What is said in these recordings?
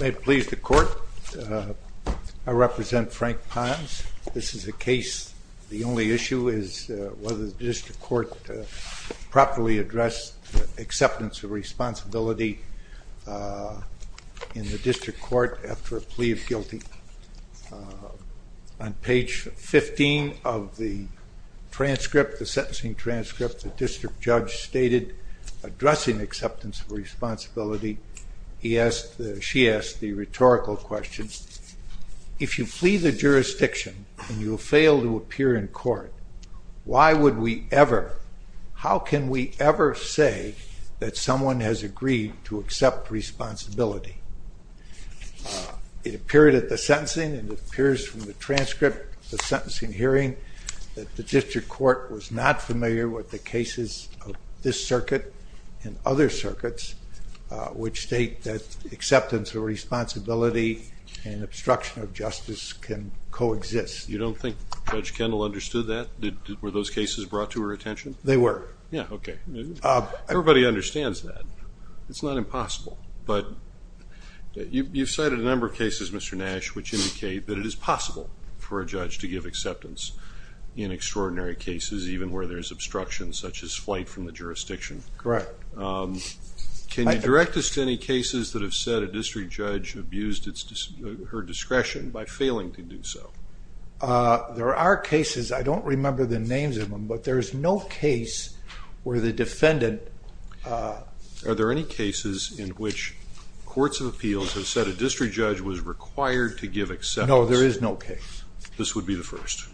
May it please the court, I represent Frank Pons. This is a case, the only issue is whether the district court properly addressed acceptance of responsibility in the district court after a plea of guilty. On page 15 of the transcript, the sentencing transcript, the district judge stated addressing acceptance of responsibility. She asked the rhetorical question, if you flee the jurisdiction and you fail to appear in court, why would we ever, how can we ever say that someone has agreed to accept responsibility? It appeared at the sentencing and it appears from the transcript of the sentencing hearing that the district court was not familiar with the cases of this circuit and other circuits which state that acceptance of responsibility and obstruction of justice can coexist. You don't think Judge Kendall understood that? Were those cases brought to her attention? They were. Yeah, okay. Everybody understands that. It's not impossible, but you've cited a number of cases, Mr. Nash, which indicate that it is possible for a judge to give acceptance in extraordinary cases, even where there's obstruction such as flight from the jurisdiction. Correct. Can you direct us to any cases that have said a district judge abused her discretion by failing to do so? There are cases. I don't remember the names of them, but there's no case where the defendant... Are there any cases in which courts of appeals have said a district judge was required to give acceptance? No, there is no case. This would be the first.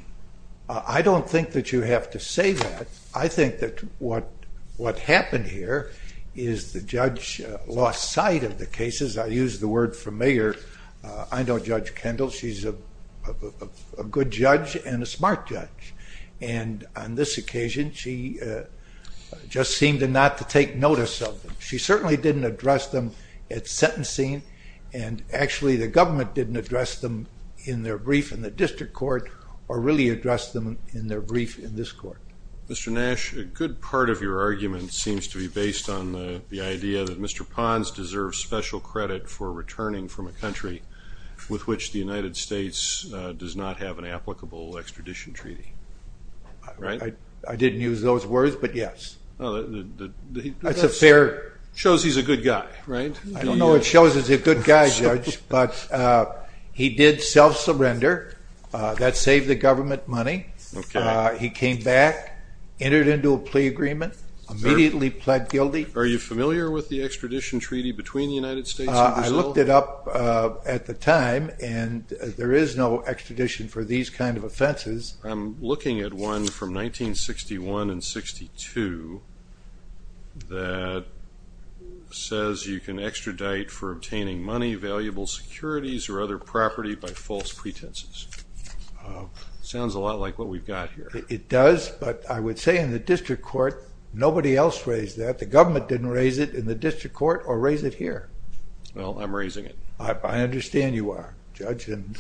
I don't think that you have to say that. I think that what happened here is the judge lost sight of the cases. I use the word familiar. I know Judge Kendall. She's a good judge and a smart judge. On this occasion, she just seemed not to take notice of them. She certainly didn't address them at sentencing, and actually the government didn't address them in their brief in the district court or really address them in their brief in this court. Mr. Nash, a good part of your argument seems to be based on the idea that Mr. Pons deserves special credit for returning from a country with which the United States does not have an applicable extradition treaty. I didn't use those words, but yes. It shows he's a good guy, right? I don't know if it shows he's a good guy, Judge, but he did self-surrender. That saved the government money. He came back, entered into a plea agreement, immediately pled guilty. Are you familiar with the extradition treaty between the United States and Brazil? I looked it up at the time, and there is no extradition for these kind of offenses. I'm looking at one from 1961 and 62 that says you can extradite for obtaining money, valuable securities, or other property by false pretenses. Sounds a lot like what we've got here. It does, but I would say in the district court, nobody else raised that. The government didn't raise it in the district court or raise it here. Well, I'm raising it. I understand you are, Judge, and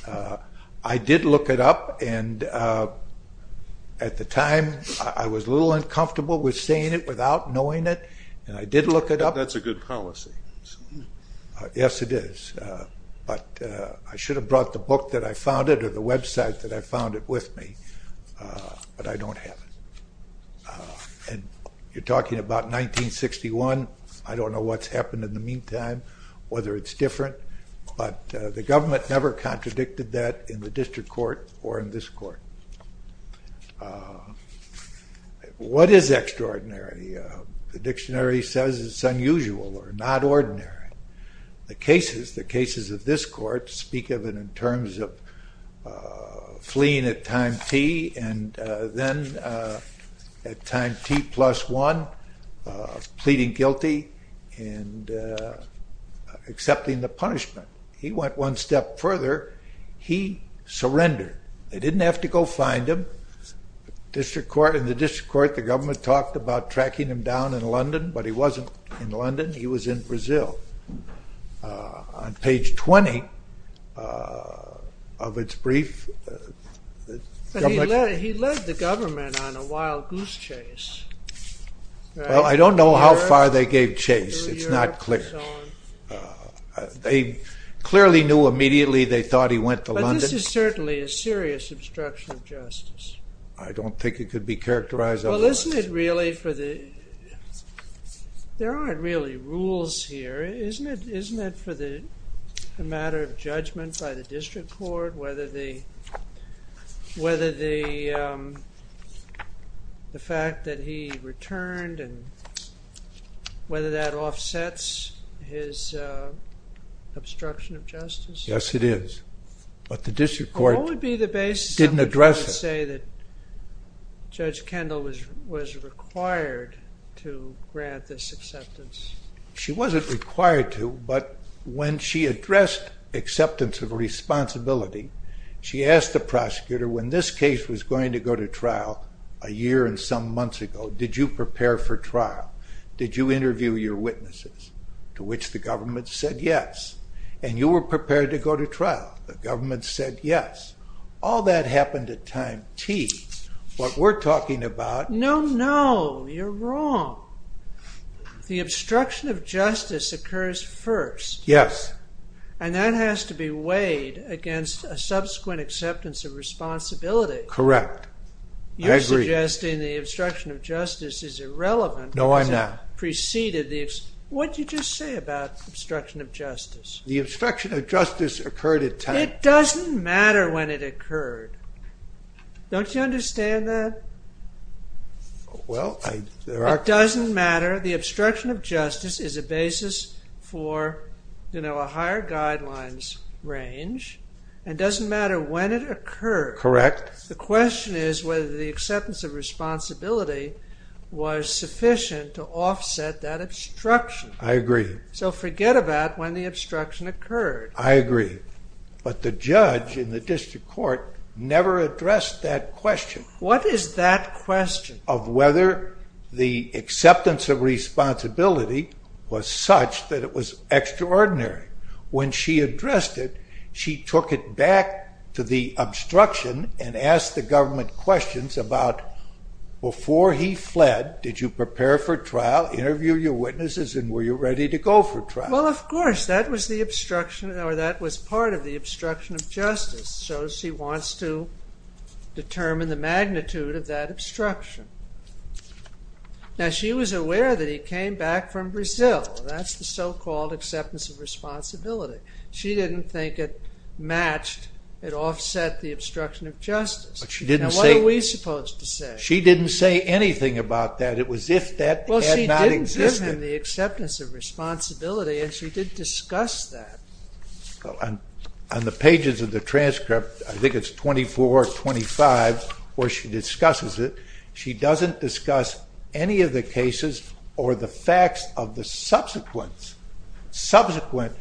I did look it up, and at the time, I was a little uncomfortable with saying it without knowing it, and I did look it up. That's a good policy. Yes, it is, but I should have brought the book that I found it or the website that I found it with me, but I don't have it. You're talking about 1961. I don't know what's happened in the meantime, whether it's different, but the government never contradicted that in the district court or in this court. What is extraordinary? The dictionary says it's unusual or not ordinary. The cases of this court speak of it in terms of fleeing at time T and then at time T plus one, pleading guilty and accepting the punishment. He went one step further. He surrendered. They didn't have to go find him. In the district court, the government talked about tracking him down in London, but he wasn't in London. He was in Brazil. On page 20 of its brief... He led the government on a wild goose chase. Well, I don't know how far they gave chase. It's not clear. They clearly knew immediately they thought he went to London. This is certainly a serious obstruction of justice. I don't think it could be characterized otherwise. Well, isn't it really for the... There aren't really rules here. Isn't it for the matter of judgment by the district court, whether the fact that he returned and whether that offsets his obstruction of justice? Yes, it is. But the district court didn't address it. What would be the basis of it to say that Judge Kendall was required to grant this acceptance? She wasn't required to, but when she addressed acceptance of responsibility, she asked the prosecutor, when this case was going to go to trial a year and some months ago, did you prepare for trial? Did you interview your witnesses? To which the government said yes. And you were prepared to go to trial. The government said yes. All that happened at time T. What we're talking about... No, no, you're wrong. The obstruction of justice occurs first. Yes. And that has to be weighed against a subsequent acceptance of responsibility. Correct. I agree. You're suggesting the obstruction of justice is irrelevant... No, I'm not. What did you just say about obstruction of justice? The obstruction of justice occurred at time. It doesn't matter when it occurred. Don't you understand that? Well, I... It doesn't matter. The obstruction of justice is a basis for, you know, a higher guidelines range. And it doesn't matter when it occurred. Correct. The question is whether the acceptance of responsibility was sufficient to offset that obstruction. I agree. So forget about when the obstruction occurred. I agree. But the judge in the district court never addressed that question. What is that question? Of whether the acceptance of responsibility was such that it was extraordinary. When she addressed it, she took it back to the obstruction and asked the government questions about, before he fled, did you prepare for trial, interview your witnesses, and were you ready to go for trial? Well, of course. That was the obstruction, or that was part of the obstruction of justice. So she wants to determine the magnitude of that obstruction. Now, she was aware that he came back from Brazil. That's the so-called acceptance of responsibility. She didn't think it matched, it offset the obstruction of justice. Now, what are we supposed to say? She didn't say anything about that. It was as if that had not existed. Well, she didn't give him the acceptance of responsibility, and she did discuss that. On the pages of the transcript, I think it's 24, 25, where she discusses it, she doesn't discuss any of the cases or the facts of the subsequent self-surrender.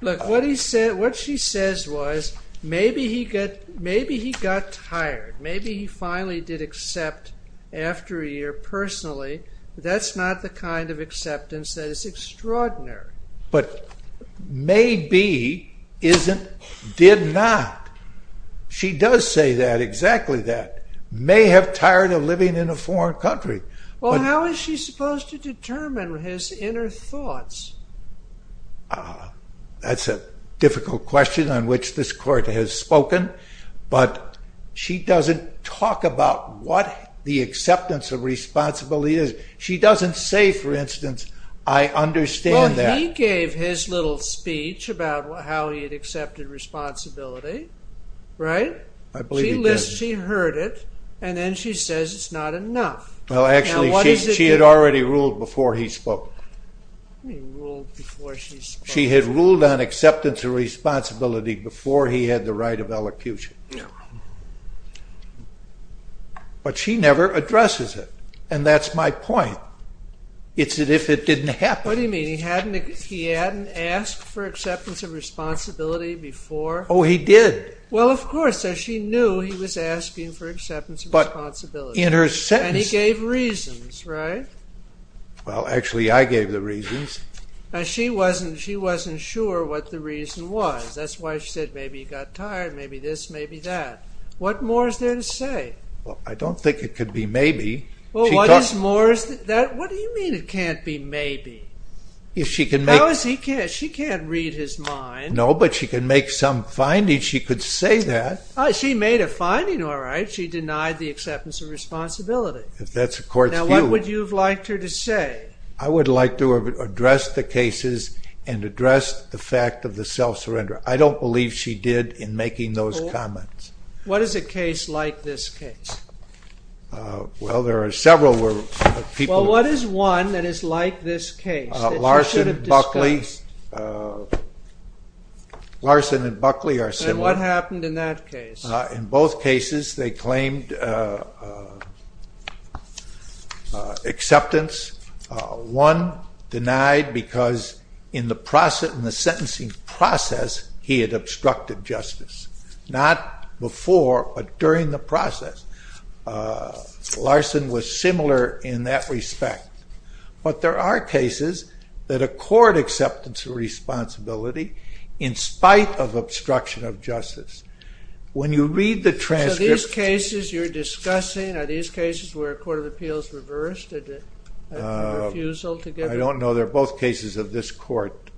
Look, what she says was, maybe he got tired, maybe he finally did accept after a year, personally. That's not the kind of acceptance that is extraordinary. But maybe, isn't, did not. She does say that, exactly that. May have tired of living in a foreign country. Well, how is she supposed to determine his inner thoughts? That's a difficult question on which this court has spoken. But she doesn't talk about what the acceptance of responsibility is. She doesn't say, for instance, I understand that. He gave his little speech about how he had accepted responsibility, right? I believe he did. She heard it, and then she says it's not enough. Well, actually, she had already ruled before he spoke. She had ruled on acceptance of responsibility before he had the right of elocution. But she never addresses it, and that's my point. It's as if it didn't happen. What do you mean? He hadn't asked for acceptance of responsibility before? Oh, he did. Well, of course. She knew he was asking for acceptance of responsibility. And he gave reasons, right? Well, actually, I gave the reasons. She wasn't sure what the reason was. That's why she said, maybe he got tired, maybe this, maybe that. What more is there to say? Well, I don't think it could be maybe. What do you mean it can't be maybe? She can't read his mind. No, but she can make some findings. She could say that. She made a finding, all right. She denied the acceptance of responsibility. Now, what would you have liked her to say? I would like to have addressed the cases and addressed the fact of the self-surrender. I don't believe she did in making those comments. What is a case like this case? Well, there are several people. Well, what is one that is like this case that you should have discussed? Larson and Buckley are similar. And what happened in that case? In both cases, they claimed acceptance. One denied because in the sentencing process, he had obstructed justice. Not before, but during the process. Larson was similar in that respect. But there are cases that accord acceptance of responsibility in spite of obstruction of justice. When you read the transcript... So these cases you're discussing, are these cases where a court of appeals reversed? Did it have a refusal to give... I don't know. They're both cases of this court.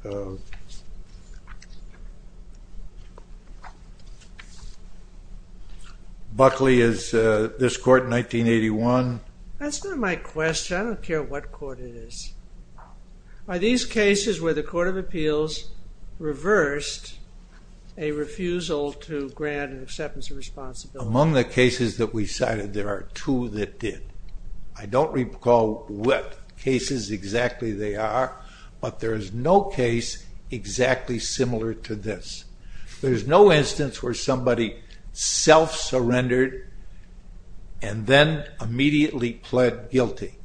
Buckley is this court in 1981. That's not my question. I don't care what court it is. Are these cases where the court of appeals reversed a refusal to grant an acceptance of responsibility? Among the cases that we cited, there are two that did. I don't recall what cases exactly they are, but there is no case exactly similar to this. There's no instance where somebody self-surrendered and then immediately pled guilty.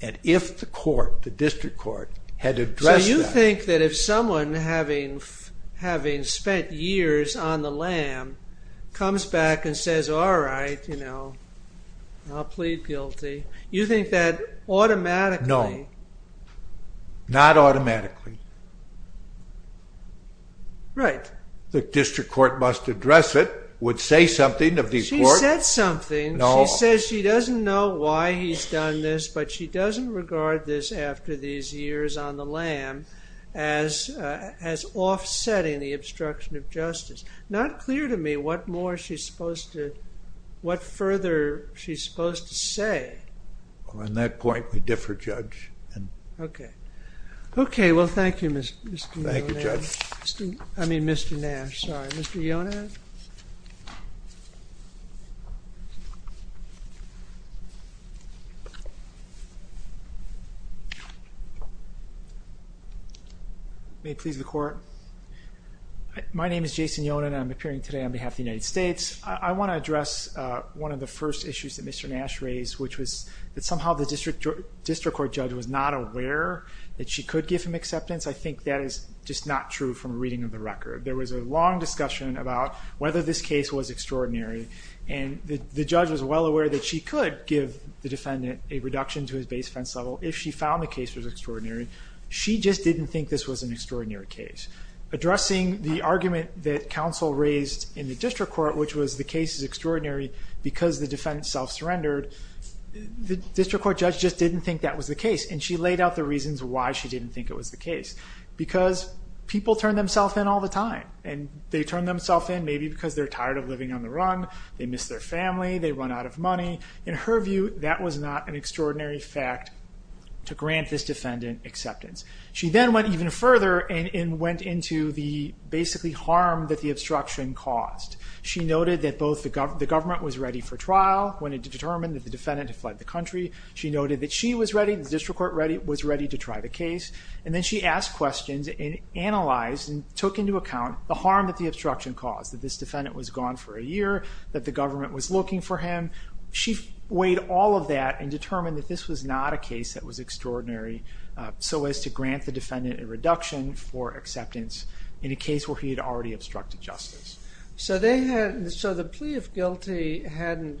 And if the court, the district court, had addressed that... So you think that if someone, having spent years on the lam, comes back and says, all right, you know, I'll plead guilty, you think that automatically... No. Not automatically. Right. The district court must address it, would say something of the court... She said something. She says she doesn't know why he's done this, but she doesn't regard this after these years on the lam as offsetting the obstruction of justice. Not clear to me what more she's supposed to... what further she's supposed to say. On that point, we differ, Judge. Okay. Okay, well, thank you, Mr. Yonan. Thank you, Judge. I mean, Mr. Nash. Sorry. Mr. Yonan? May it please the Court. My name is Jason Yonan. I'm appearing today on behalf of the United States. I want to address one of the first issues that Mr. Nash raised, which was that somehow the district court judge was not aware that she could give him acceptance. I think that is just not true from a reading of the record. There was a long discussion about whether this case was extraordinary, and the judge was well aware that she could give the defendant a reduction to his base offense level if she found the case was extraordinary. She just didn't think this was an extraordinary case. Addressing the argument that counsel raised in the district court, which was the case is extraordinary because the defendant self-surrendered, the district court judge just didn't think that was the case, and she laid out the reasons why she didn't think it was the case. Because people turn themselves in all the time, and they turn themselves in maybe because they're tired of living on the run, they miss their family, they run out of money. In her view, that was not an extraordinary fact to grant this defendant acceptance. She then went even further and went into the basically harm that the obstruction caused. She noted that both the government was ready for trial when it was determined that the defendant had fled the country. She noted that she was ready, the district court was ready to try the case, and then she asked questions and analyzed and took into account the harm that the obstruction caused, that this defendant was gone for a year, that the government was looking for him. She weighed all of that and determined that this was not a case that was extraordinary so as to grant the defendant a reduction for acceptance in a case where he had already obstructed justice. So the plea of guilty hadn't...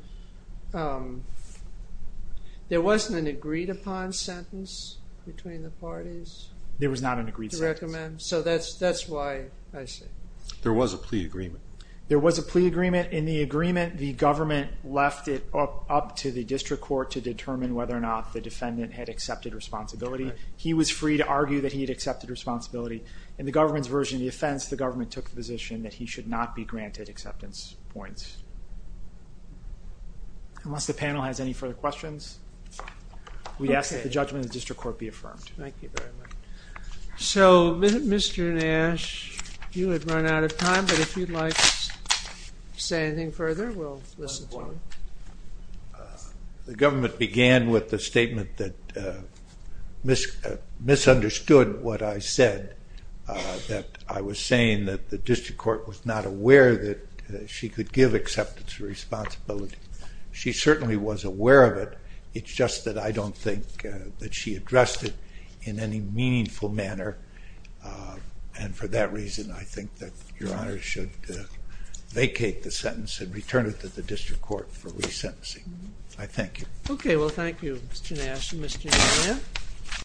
There wasn't an agreed upon sentence between the parties? There was not an agreed sentence. So that's why... There was a plea agreement. There was a plea agreement. In the agreement, the government left it up to the district court to determine whether or not the defendant had accepted responsibility. He was free to argue that he had accepted responsibility. In the government's version of the offense, the government took the position that he should not be granted acceptance points. Unless the panel has any further questions, we ask that the judgment of the district court be affirmed. Thank you very much. So, Mr. Nash, you have run out of time, but if you'd like to say anything further, we'll listen to you. The government began with the statement that misunderstood what I said, that I was saying that the district court was not aware that she could give acceptance responsibility. She certainly was aware of it. It's just that I don't think that she addressed it in any meaningful manner, and for that reason, I think that Your Honor should vacate the sentence and return it to the district court for resentencing. I thank you. Okay, well, thank you, Mr. Nash. Mr. Nunez?